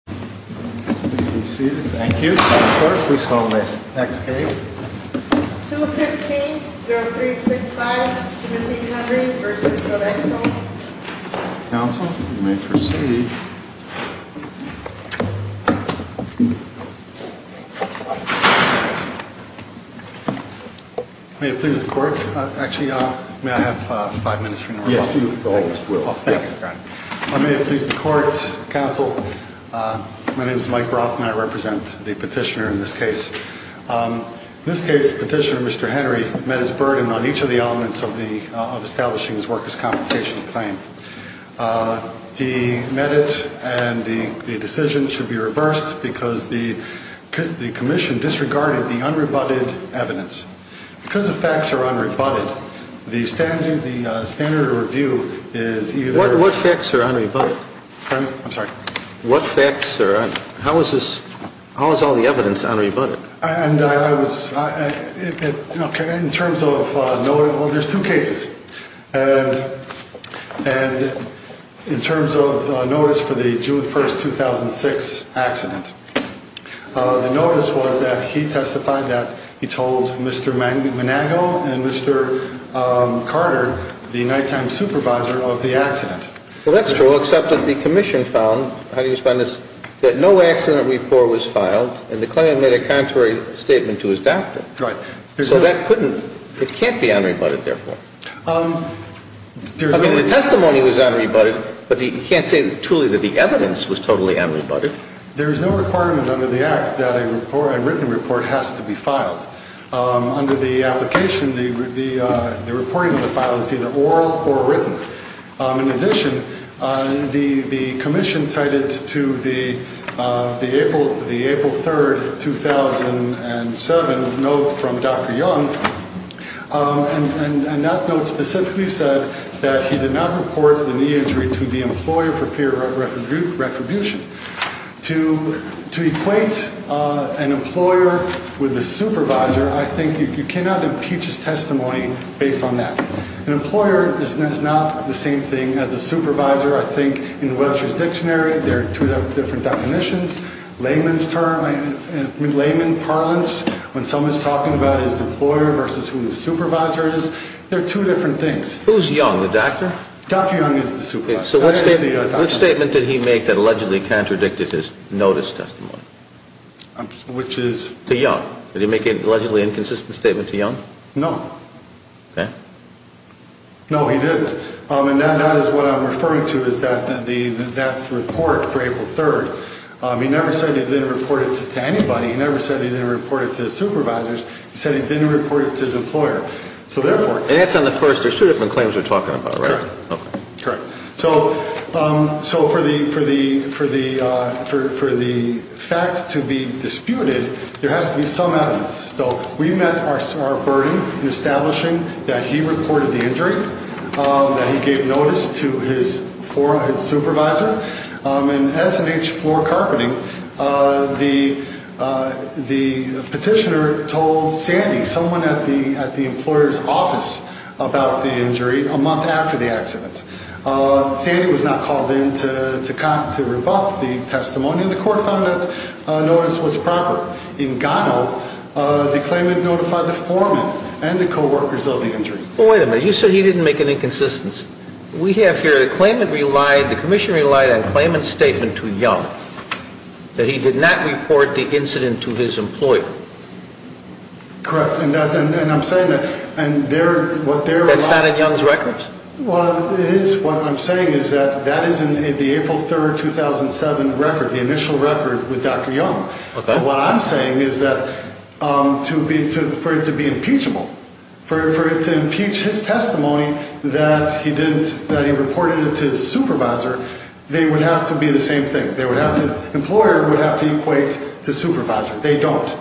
215-0365-1700 v. Sodejo My name is Mike Roth and I represent the petitioner in this case. In this case, Petitioner Mr. Henry met his burden on each of the elements of establishing his workers' compensation claim. He met it and the decision should be reversed because the commission disregarded the unrebutted evidence. Because the facts are unrebutted, the standard of review is either... What facts are unrebutted? I'm sorry? What facts are... How is this... How is all the evidence unrebutted? And I was... In terms of... Well, there's two cases. And in terms of notice for the June 1, 2006 accident, the notice was that he testified that he told Mr. Manago and Mr. Carter, the nighttime supervisor, of the accident. Well, that's true, except that the commission found... How do you explain this? That no accident report was filed and the claimant made a contrary statement to his doctor. Right. So that couldn't... It can't be unrebutted, therefore. I mean, the testimony was unrebutted, but you can't say truly that the evidence was totally unrebutted. There is no requirement under the Act that a written report has to be filed. Under the application, the reporting of the file is either oral or written. In addition, the commission cited to the April 3, 2007 note from Dr. Young, and that note specifically said that he did not report the knee injury to the employer for peer retribution. To equate an employer with a supervisor, I think you cannot impeach his testimony based on that. An employer is not the same thing as a supervisor, I think. In Webster's dictionary, there are two different definitions. Layman's term... Layman parlance, when someone's talking about his employer versus who the supervisor is, there are two different things. Who's Young, the doctor? Dr. Young is the supervisor. Which statement did he make that allegedly contradicted his notice testimony? Which is... To Young. Did he make an allegedly inconsistent statement to Young? No. Okay. No, he didn't. And that is what I'm referring to, is that report for April 3. He never said he didn't report it to anybody. He never said he didn't report it to his supervisors. He said he didn't report it to his employer. So therefore... And that's on the first... There's two different claims you're talking about, right? Correct. Okay. Correct. So for the fact to be disputed, there has to be some evidence. So we met our burden in establishing that he reported the injury, that he gave notice to his supervisor. In S&H floor carpeting, the petitioner told Sandy, someone at the employer's office, about the injury a month after the accident. Sandy was not called in to revoke the testimony. The court found that notice was proper. In Gano, the claimant notified the foreman and the coworkers of the injury. Well, wait a minute. You said he didn't make an inconsistency. We have here, the claimant relied, the commission relied on the claimant's statement to Young, that he did not report the incident to his employer. Correct. And I'm saying that... That's not in Young's records? Well, it is. What I'm saying is that that is in the April 3, 2007 record, the initial record with Dr. Young. What I'm saying is that for it to be impeachable, for it to impeach his testimony that he reported it to his supervisor, they would have to be the same thing. The employer would have to equate to supervisor. They don't.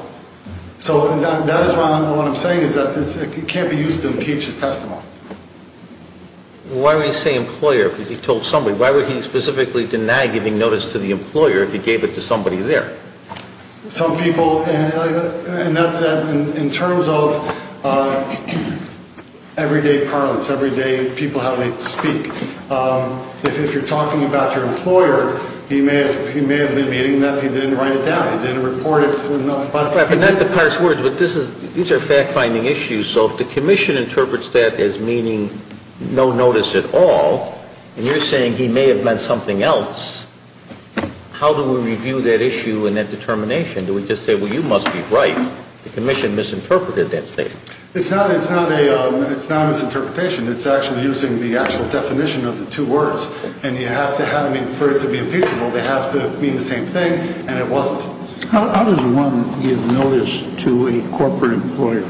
So that is what I'm saying is that it can't be used to impeach his testimony. Why would he say employer? Because he told somebody. Why would he specifically deny giving notice to the employer if he gave it to somebody there? Some people, and that's in terms of everyday parlance, everyday people, how they speak. If you're talking about your employer, he may have been admitting that he didn't write it down, he didn't report it. These are fact-finding issues. So if the Commission interprets that as meaning no notice at all, and you're saying he may have meant something else, how do we review that issue and that determination? Do we just say, well, you must be right? The Commission misinterpreted that statement. It's not a misinterpretation. It's actually using the actual definition of the two words. And for it to be impeachable, they have to mean the same thing, and it wasn't. How does one give notice to a corporate employer?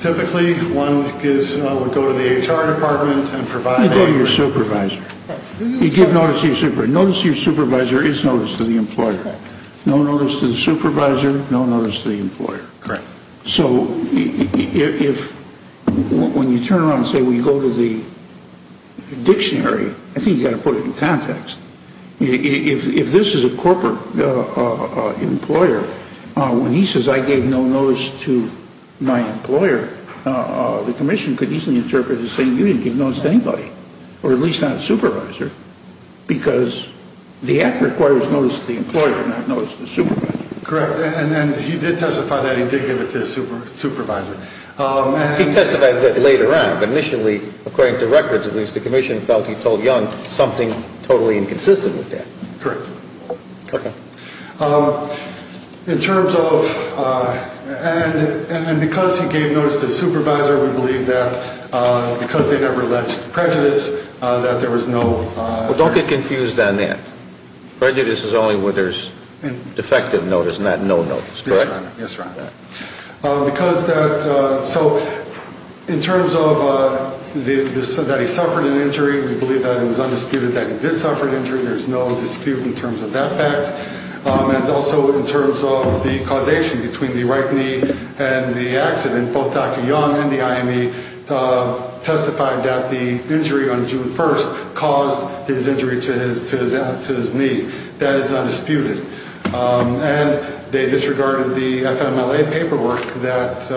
Typically, one would go to the HR department and provide... You go to your supervisor. You give notice to your supervisor. Notice to your supervisor is notice to the employer. No notice to the supervisor, no notice to the employer. Correct. So when you turn around and say we go to the dictionary, I think you've got to put it in context. If this is a corporate employer, when he says I gave no notice to my employer, the Commission could easily interpret it as saying you didn't give notice to anybody, or at least not a supervisor, because the act requires notice to the employer, not notice to the supervisor. Correct. And he did testify that he did give it to his supervisor. He testified that later on, but initially, according to records, at least, the Commission felt he told Young something totally inconsistent with that. Correct. Okay. In terms of... and because he gave notice to his supervisor, we believe that because they never left prejudice, that there was no... Yes, Your Honor. Yes, Your Honor. Because that... so in terms of that he suffered an injury, we believe that it was undisputed that he did suffer an injury. There's no dispute in terms of that fact. And also in terms of the causation between the right knee and the accident, both Dr. Young and the IME testified that the injury on June 1st caused his injury to his knee. That is undisputed. And they disregarded the FMLA paperwork that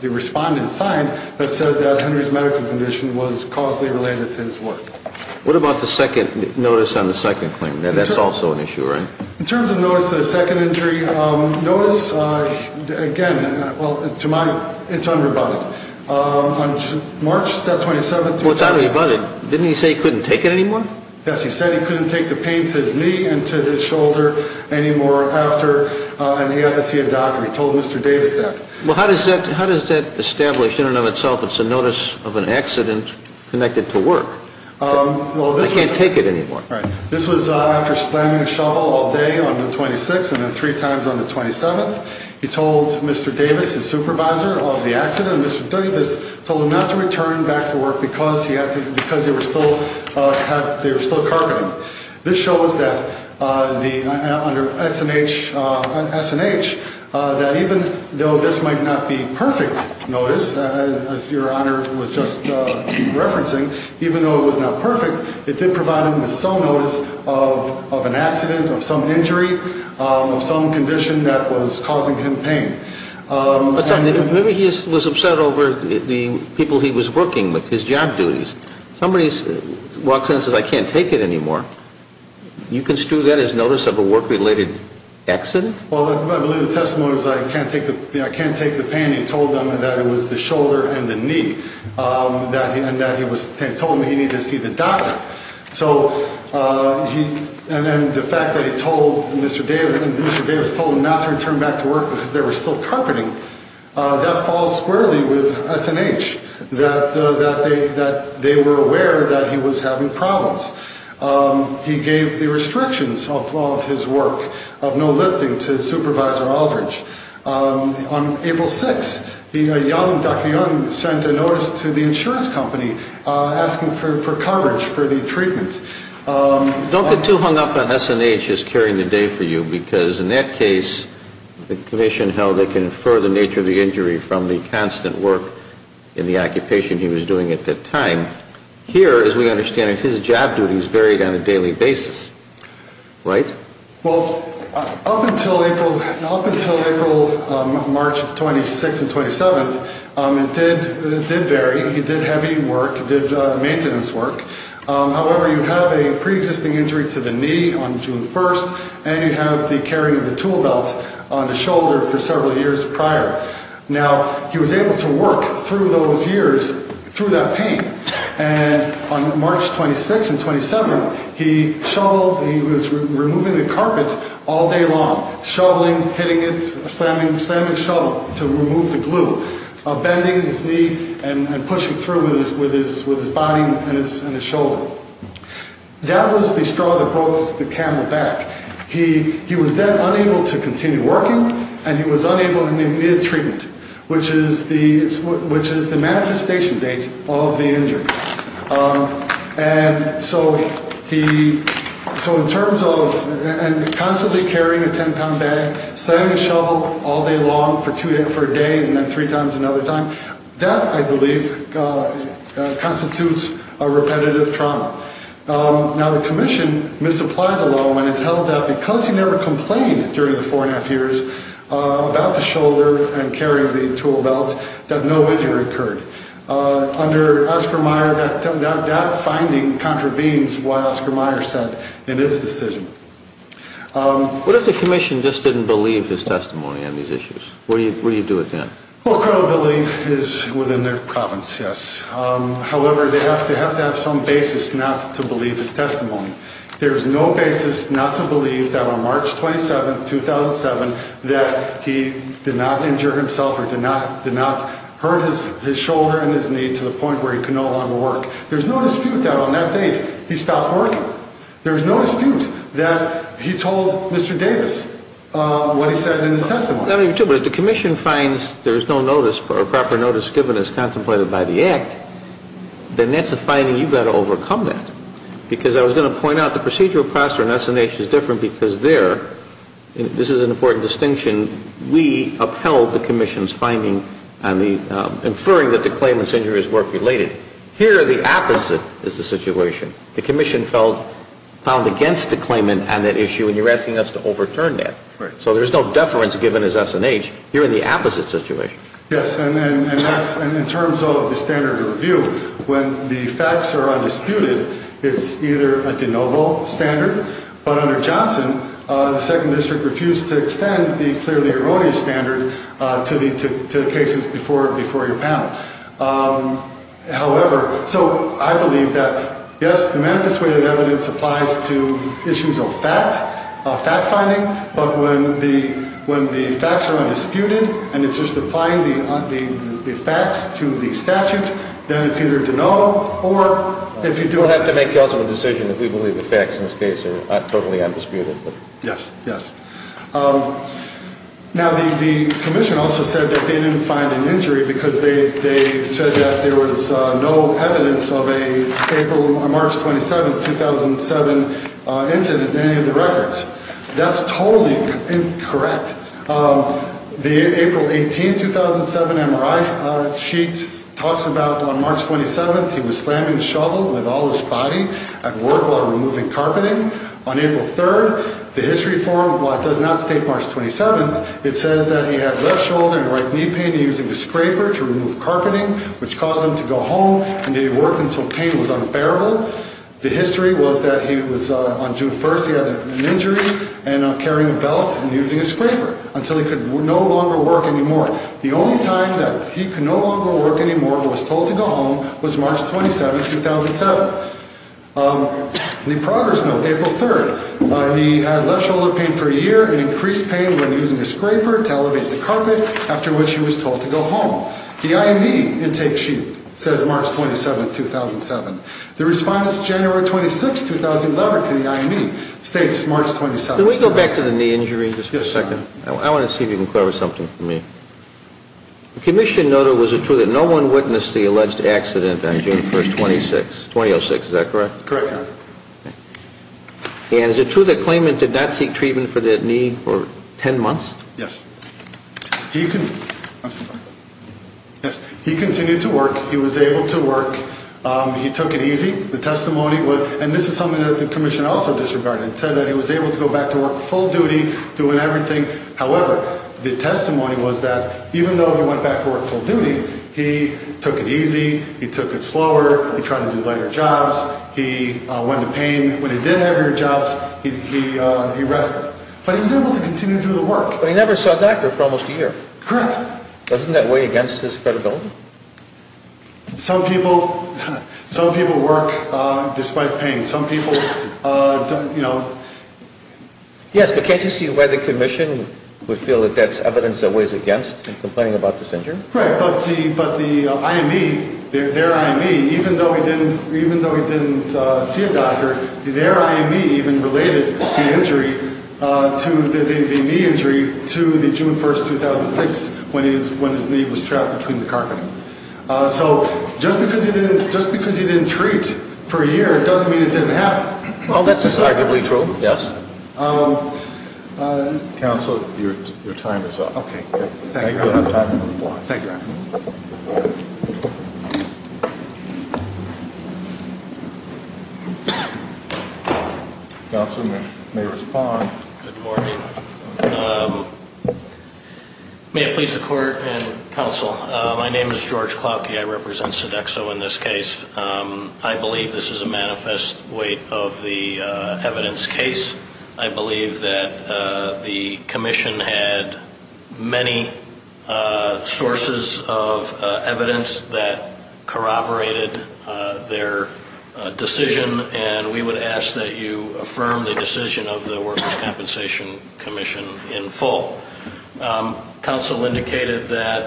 the respondent signed that said that Henry's medical condition was causally related to his work. What about the second notice on the second claim? That's also an issue, right? In terms of notice of the second injury, notice, again, well, to my... it's unrebutted. On March 27th... Well, it's unrebutted. Didn't he say he couldn't take it anymore? Yes, he said he couldn't take the pain to his knee and to his shoulder anymore after... and he had to see a doctor. He told Mr. Davis that. Well, how does that establish in and of itself it's a notice of an accident connected to work? Well, this was... I can't take it anymore. Right. This was after slamming a shovel all day on the 26th and then three times on the 27th. He told Mr. Davis, his supervisor, of the accident, and Mr. Davis told him not to return back to work because he had to... because they were still... they were still carpeting. This shows that the... under S&H... S&H, that even though this might not be perfect notice, as Your Honor was just referencing, even though it was not perfect, it did provide him with some notice of an accident, of some injury, of some condition that was causing him pain. But, son, maybe he was upset over the people he was working with, his job duties. Somebody walks in and says, I can't take it anymore. You construe that as notice of a work-related accident? Well, I believe the testimony was, I can't take the pain. He told them that it was the shoulder and the knee. And that he was... he told them he needed to see the doctor. So, he... and then the fact that he told Mr. Davis... Mr. Davis told him not to return back to work because they were still carpeting, that falls squarely with S&H, that they were aware that he was having problems. He gave the restrictions of his work, of no lifting, to Supervisor Aldridge. On April 6th, Dr. Young sent a notice to the insurance company asking for coverage for the treatment. Don't get too hung up on S&H as carrying the day for you, because in that case, the commission held they confer the nature of the injury from the constant work in the occupation he was doing at that time. Here, as we understand it, his job duties varied on a daily basis, right? Well, up until April... up until April... March 26th and 27th, it did... it did vary. He did heavy work. He did maintenance work. However, you have a pre-existing injury to the knee on June 1st, and you have the carrying of the tool belt on the shoulder for several years prior. Now, he was able to work through those years, through that pain. And on March 26th and 27th, he shoveled... he was removing the carpet all day long, shoveling, hitting it, slamming the shovel to remove the glue, bending his knee and pushing through with his body and his shoulder. That was the straw that broke the camel back. He was then unable to continue working, and he was unable to get treatment, which is the manifestation date of the injury. And so he... so in terms of constantly carrying a 10-pound bag, slamming the shovel all day long for a day and then three times another time, that, I believe, constitutes a repetitive trauma. Now, the Commission misapplied the law and it held that because he never complained during the four-and-a-half years about the shoulder and carrying the tool belt, that no injury occurred. Under Oscar Mayer, that finding contravenes what Oscar Mayer said in his decision. What if the Commission just didn't believe his testimony on these issues? What do you do with that? Well, credibility is within their province, yes. However, they have to have some basis not to believe his testimony. There's no basis not to believe that on March 27, 2007, that he did not injure himself or did not hurt his shoulder and his knee to the point where he could no longer work. There's no dispute that on that date he stopped working. There's no dispute that he told Mr. Davis what he said in his testimony. Not only that, but if the Commission finds there's no notice, or proper notice given as contemplated by the Act, then that's a finding you've got to overcome that. Because I was going to point out the procedural process in S&H is different because there, this is an important distinction, we upheld the Commission's finding on the inferring that the claimant's injury is work-related. Here, the opposite is the situation. The Commission felt found against the claimant on that issue and you're asking us to overturn that. So there's no deference given as S&H. You're in the opposite situation. Yes, and in terms of the standard of review, when the facts are undisputed, it's either a de novo standard, but under Johnson, the Second District refused to extend the clearly erroneous standard to the cases before your panel. However, so I believe that, yes, the manifest way of evidence applies to issues of facts, fact-finding, but when the facts are undisputed and it's just applying the facts to the statute, then it's either de novo or if you do... We'll have to make also a decision if we believe the facts in this case are totally undisputed. Yes, yes. ...because they said that there was no evidence of a April... a March 27, 2007 incident in any of the records. That's totally incorrect. The April 18, 2007 MRI sheet talks about on March 27th, he was slamming the shovel with all his body at work while removing carpeting. On April 3rd, the history forum, while it does not state March 27th, it says that he had left shoulder and right knee pain using a scraper to remove carpeting, which caused him to go home, and he worked until pain was unbearable. The history was that he was, on June 1st, he had an injury and carrying a belt and using a scraper until he could no longer work anymore. The only time that he could no longer work anymore and was told to go home was March 27, 2007. The progress note, April 3rd, he had left shoulder pain for a year and increased pain when using a scraper to elevate the carpet, after which he was told to go home. The IME intake sheet says March 27, 2007. The response, January 26, 2011, to the IME states March 27, 2007. Can we go back to the knee injury in just a second? Yes, sir. I want to see if you can clarify something for me. The commission noted, was it true, that no one witnessed the alleged accident on June 1st, 2006? Is that correct? Correct, sir. And is it true that Klayman did not seek treatment for the knee for 10 months? Yes. He continued to work. He was able to work. He took it easy. The testimony was, and this is something that the commission also disregarded, said that he was able to go back to work full duty, doing everything. However, the testimony was that even though he went back to work full duty, he took it easy, he took it slower, he tried to do lighter jobs, he went to pain. When he did have lighter jobs, he rested. But he was able to continue to do the work. But he never saw a doctor for almost a year. Correct. Doesn't that weigh against his credibility? Some people work despite pain. Some people, you know. Yes, but can't you see why the commission would feel that that's evidence that weighs against in complaining about this injury? Right. But the IME, their IME, even though he didn't see a doctor, their IME even related the knee injury to the June 1, 2006, when his knee was trapped between the carpet. So just because he didn't treat for a year doesn't mean it didn't happen. Well, that's arguably true, yes. Counsel, your time is up. Okay. Thank you. Thank you, Your Honor. Counsel may respond. Good morning. May it please the Court and counsel, my name is George Cloutke. I represent Sodexo in this case. I believe this is a manifest weight of the evidence case. I believe that the commission had many sources of evidence that corroborated their decision, and we would ask that you affirm the decision of the Workers' Compensation Commission in full. Counsel indicated that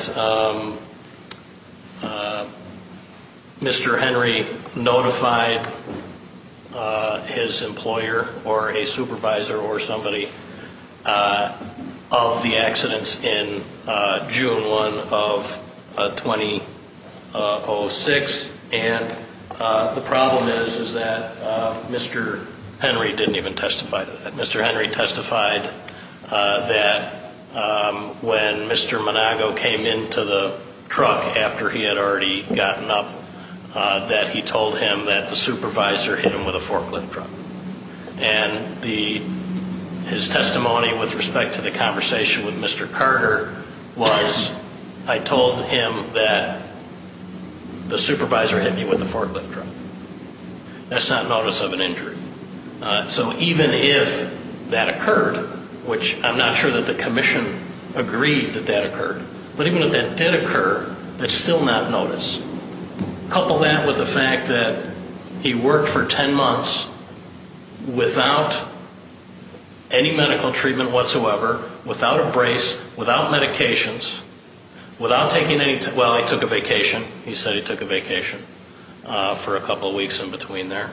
Mr. Henry notified his employer or a supervisor or somebody of the accidents in June 1 of 2006, and the problem is that Mr. Henry didn't even testify to that. That when Mr. Monago came into the truck after he had already gotten up, that he told him that the supervisor hit him with a forklift truck. And his testimony with respect to the conversation with Mr. Carter was, I told him that the supervisor hit me with a forklift truck. That's not notice of an injury. So even if that occurred, which I'm not sure that the commission agreed that that occurred, but even if that did occur, it's still not notice. Couple that with the fact that he worked for 10 months without any medical treatment whatsoever, without a brace, without medications, without taking any, well, he took a vacation. He said he took a vacation for a couple of weeks in between there.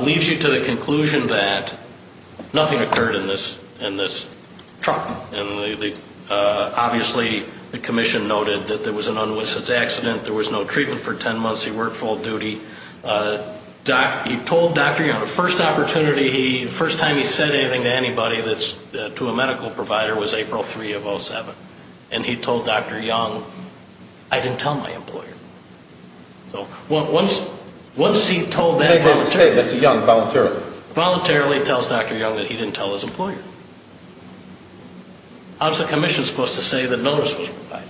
Leads you to the conclusion that nothing occurred in this truck. And obviously the commission noted that there was an unwitnessed accident. There was no treatment for 10 months. He worked full duty. He told Dr. Young, the first opportunity, the first time he said anything to anybody that's to a medical provider was April 3 of 07. So once he told that voluntarily, he tells Dr. Young that he didn't tell his employer. How's the commission supposed to say that notice was provided?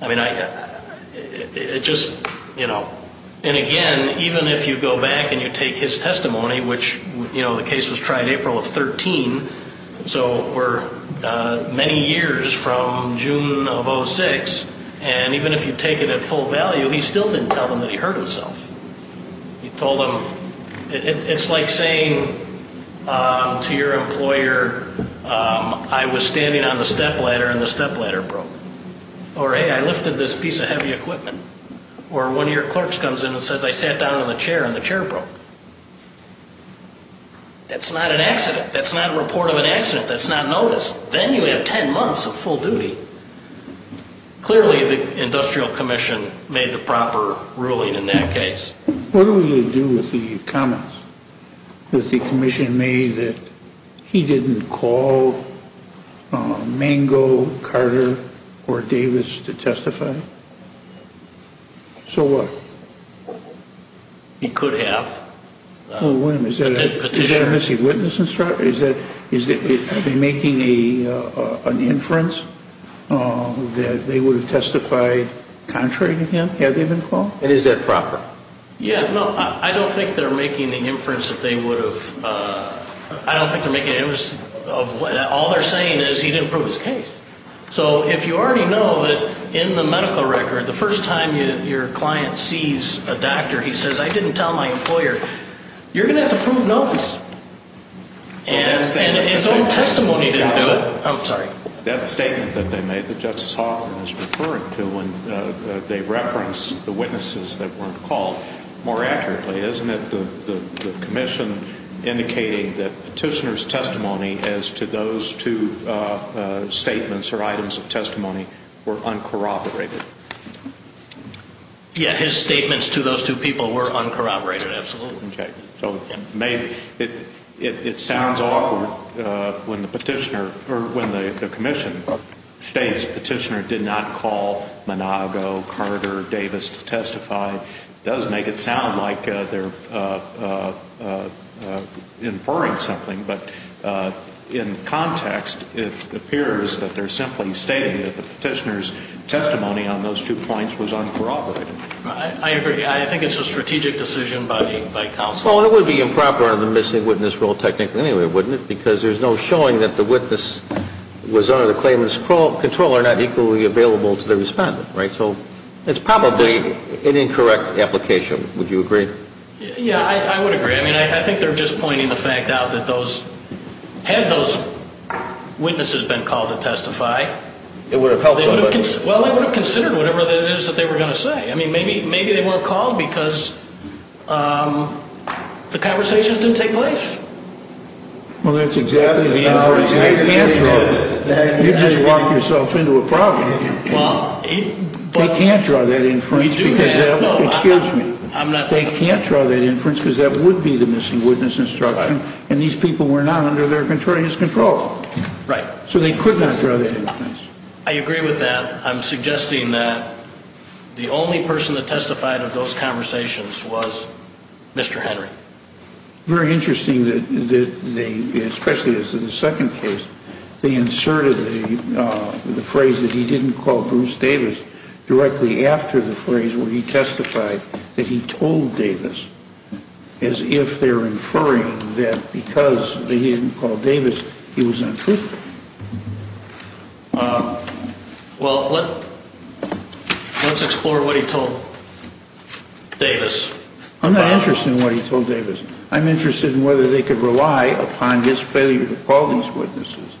I mean, it just, you know, and again, even if you go back and you take his testimony, which, you know, the case was tried April of 13, so we're many years from June of 06, and even if you take it at full value, he still didn't tell them that he hurt himself. He told them, it's like saying to your employer, I was standing on the stepladder and the stepladder broke. Or, hey, I lifted this piece of heavy equipment. Or one of your clerks comes in and says, I sat down on the chair and the chair broke. That's not an accident. That's not a report of an accident. That's not notice. Then you have 10 months of full duty. Clearly the industrial commission made the proper ruling in that case. What do we do with the comments that the commission made that he didn't call Mango, Carter, or Davis to testify? So what? He could have. Wait a minute. Is that a missing witness? Are they making an inference that they would have testified contrary to him had they been called? And is that proper? Yeah. No, I don't think they're making an inference that they would have. I don't think they're making an inference. All they're saying is he didn't prove his case. So if you already know that in the medical record, the first time your client sees a doctor, he says, I didn't tell my employer. You're going to have to prove notice. And his own testimony didn't do it. I'm sorry. That statement that they made that Justice Hoffman was referring to when they referenced the witnesses that weren't called, more accurately, isn't it the commission indicating that petitioner's testimony as to those two statements or items of testimony were uncorroborated? Yeah, his statements to those two people were uncorroborated, absolutely. Okay. So it sounds awkward when the petitioner or when the commission states petitioner did not call Monago, Carter, Davis to testify. It does make it sound like they're inferring something. But in context, it appears that they're simply stating that the petitioner's testimony on those two points was uncorroborated. I agree. I think it's a strategic decision by counsel. Well, it would be improper under the missing witness rule technically anyway, wouldn't it? Because there's no showing that the witness was under the claimant's control or not equally available to the respondent, right? So it's probably an incorrect application. Would you agree? Yeah, I would agree. I mean, I think they're just pointing the fact out that had those witnesses been called to testify, they would have considered whatever it is that they were going to say. I mean, maybe they weren't called because the conversations didn't take place. Well, that's exactly the inference. They can't draw that. You just locked yourself into a problem. They can't draw that inference. We do that. Excuse me. They can't draw that inference because that would be the missing witness instruction, and these people were not under his control. Right. So they could not draw that inference. I agree with that. I'm suggesting that the only person that testified of those conversations was Mr. Henry. Very interesting that they, especially as to the second case, they inserted the phrase that he didn't call Bruce Davis directly after the phrase where he testified that he told Davis, as if they're inferring that because he didn't call Davis, he was untruthful. Well, let's explore what he told Davis. I'm not interested in what he told Davis. I'm interested in whether they could rely upon his failure to call these witnesses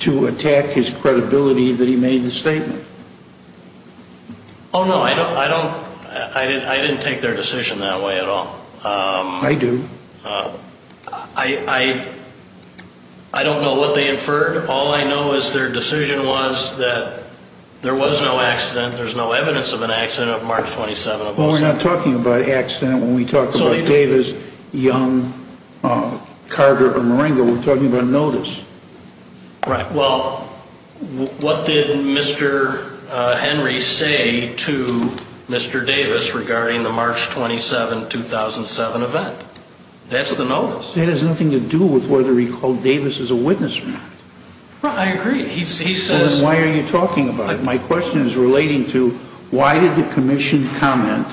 to attack his credibility that he made the statement. Oh, no, I don't. I didn't take their decision that way at all. I do. I don't know what they inferred. All I know is their decision was that there was no accident. There's no evidence of an accident on March 27th. Well, we're not talking about an accident when we talk about Davis, Young, Carter, or Marengo. We're talking about notice. Right. Well, what did Mr. Henry say to Mr. Davis regarding the March 27, 2007 event? That's the notice. That has nothing to do with whether he called Davis as a witness or not. He says... Then why are you talking about it? My question is relating to why did the commission comment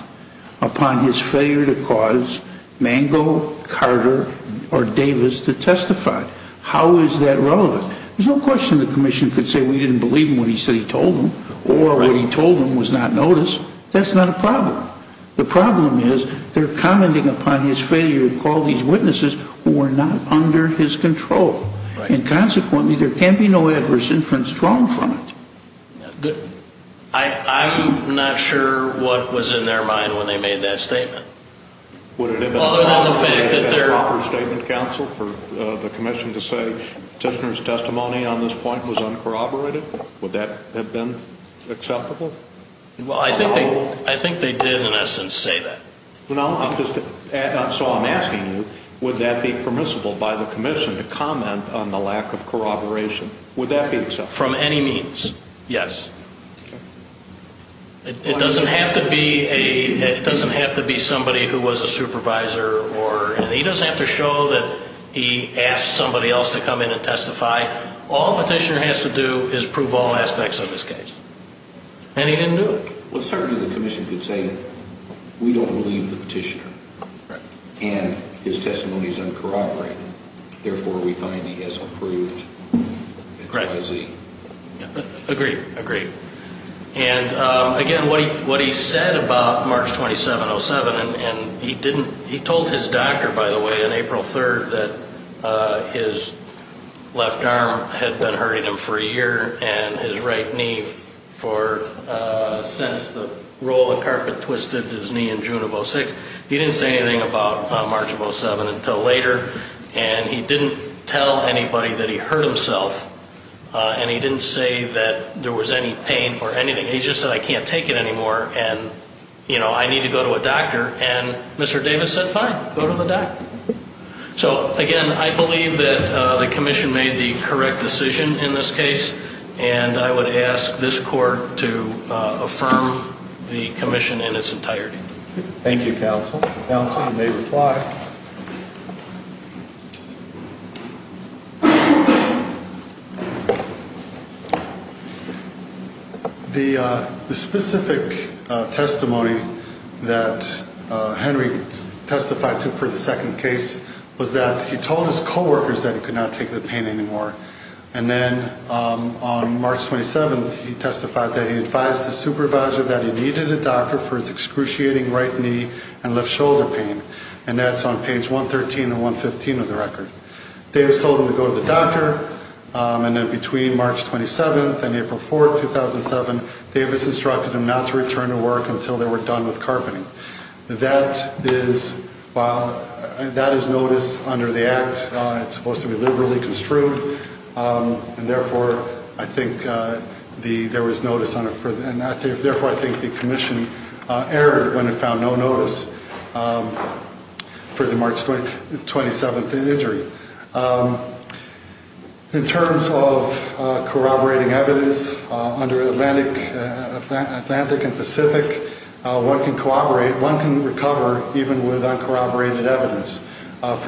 upon his failure to cause Marengo, Carter, or Davis to testify? How is that relevant? There's no question the commission could say we didn't believe him when he said he told them or what he told them was not notice. That's not a problem. The problem is they're commenting upon his failure to call these witnesses who were not under his control. Right. And consequently, there can't be no adverse inference drawn from it. I'm not sure what was in their mind when they made that statement. Other than the fact that they're... Would it have been a proper statement, counsel, for the commission to say Tishner's testimony on this point was uncorroborated? Would that have been acceptable? Well, I think they did, in essence, say that. So I'm asking you, would that be permissible by the commission to comment on the lack of corroboration? Would that be acceptable? From any means, yes. Okay. It doesn't have to be somebody who was a supervisor or... He doesn't have to show that he asked somebody else to come in and testify. All that Tishner has to do is prove all aspects of his case. And he didn't do it. Well, certainly the commission could say that we don't believe the petitioner. Right. And his testimony is uncorroborated. Therefore, we find he has approved XYZ. Right. Agreed, agreed. And, again, what he said about March 27, 2007, and he didn't... He told his doctor, by the way, on April 3rd that his left arm had been hurting him for a year and his right knee for since the roll of carpet twisted his knee in June of 06. He didn't say anything about March of 07 until later. And he didn't tell anybody that he hurt himself. And he didn't say that there was any pain or anything. He just said, I can't take it anymore, and, you know, I need to go to a doctor. And Mr. Davis said, fine, go to the doctor. So, again, I believe that the commission made the correct decision in this case, and I would ask this court to affirm the commission in its entirety. Thank you, counsel. Counsel, you may reply. Thank you. The specific testimony that Henry testified to for the second case was that he told his coworkers that he could not take the pain anymore. And then on March 27, he testified that he advised his supervisor that he needed a doctor for his excruciating right knee and left shoulder pain. And that's on page 113 and 115 of the record. Davis told him to go to the doctor. And then between March 27 and April 4, 2007, Davis instructed him not to return to work until they were done with carpeting. That is notice under the Act. It's supposed to be liberally construed. And, therefore, I think there was notice on it. And, therefore, I think the commission erred when it found no notice for the March 27th injury. In terms of corroborating evidence, under Atlantic and Pacific, one can corroborate, one can recover even with uncorroborated evidence. I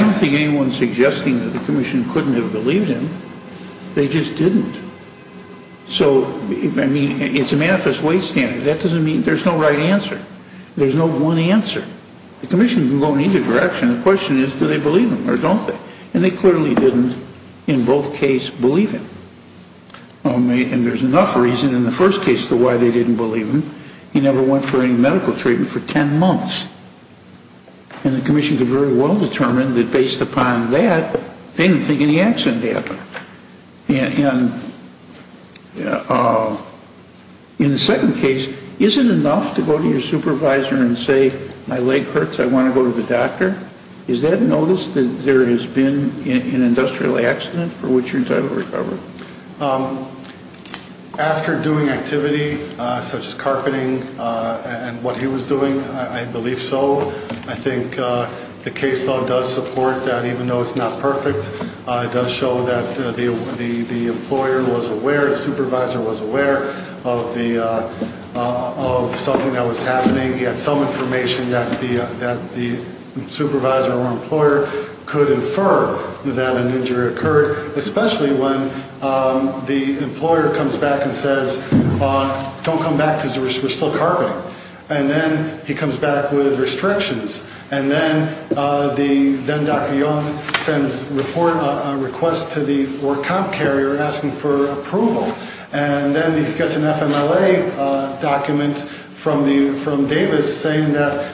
don't think anyone is suggesting that the commission couldn't have believed him. They just didn't. So, I mean, it's a manifest way standard. That doesn't mean there's no right answer. There's no one answer. The commission can go in either direction. The question is do they believe him or don't they? And they clearly didn't, in both cases, believe him. And there's enough reason in the first case as to why they didn't believe him. He never went for any medical treatment for 10 months. And the commission could very well determine that, based upon that, they didn't think any accident happened. In the second case, is it enough to go to your supervisor and say, my leg hurts, I want to go to the doctor? Is that notice that there has been an industrial accident for which you're entitled to recover? After doing activity such as carpeting and what he was doing, I believe so. I think the case law does support that, even though it's not perfect, it does show that the employer was aware, the supervisor was aware, of something that was happening. He had some information that the supervisor or employer could infer that an injury occurred, especially when the employer comes back and says, don't come back because we're still carpeting. And then he comes back with restrictions. And then Dr. Young sends a request to the work comp carrier asking for approval. And then he gets an FMLA document from Davis saying that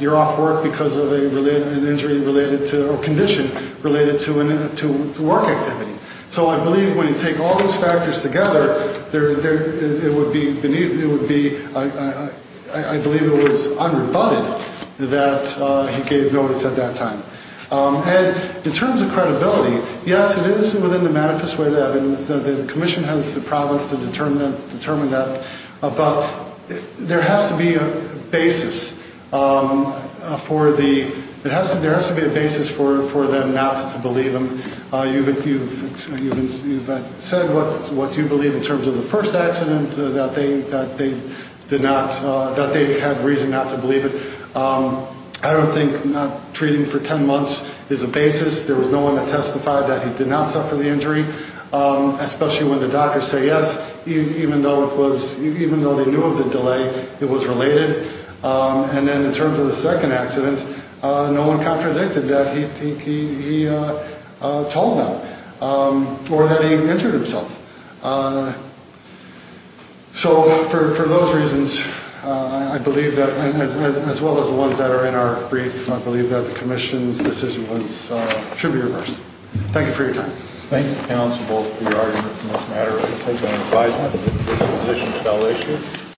you're off work because of an injury or condition related to work activity. So I believe when you take all those factors together, it would be beneath, I believe it was unrebutted that he gave notice at that time. And in terms of credibility, yes, it is within the manifest way of evidence. The commission has the prowess to determine that. But there has to be a basis for the, there has to be a basis for them not to believe him. You've said what you believe in terms of the first accident, that they did not, that they had reason not to believe it. I don't think treating for ten months is a basis. There was no one that testified that he did not suffer the injury, especially when the doctors say yes, even though it was, even though they knew of the delay, it was related. And then in terms of the second accident, no one contradicted that. I don't think he told them or that he injured himself. So for those reasons, I believe that, as well as the ones that are in our brief, I believe that the commission's decision was, should be reversed. Thank you for your time. Thank you, counsel, both for your arguments in this matter. I'll take that as an advisement. This position is a valid issue.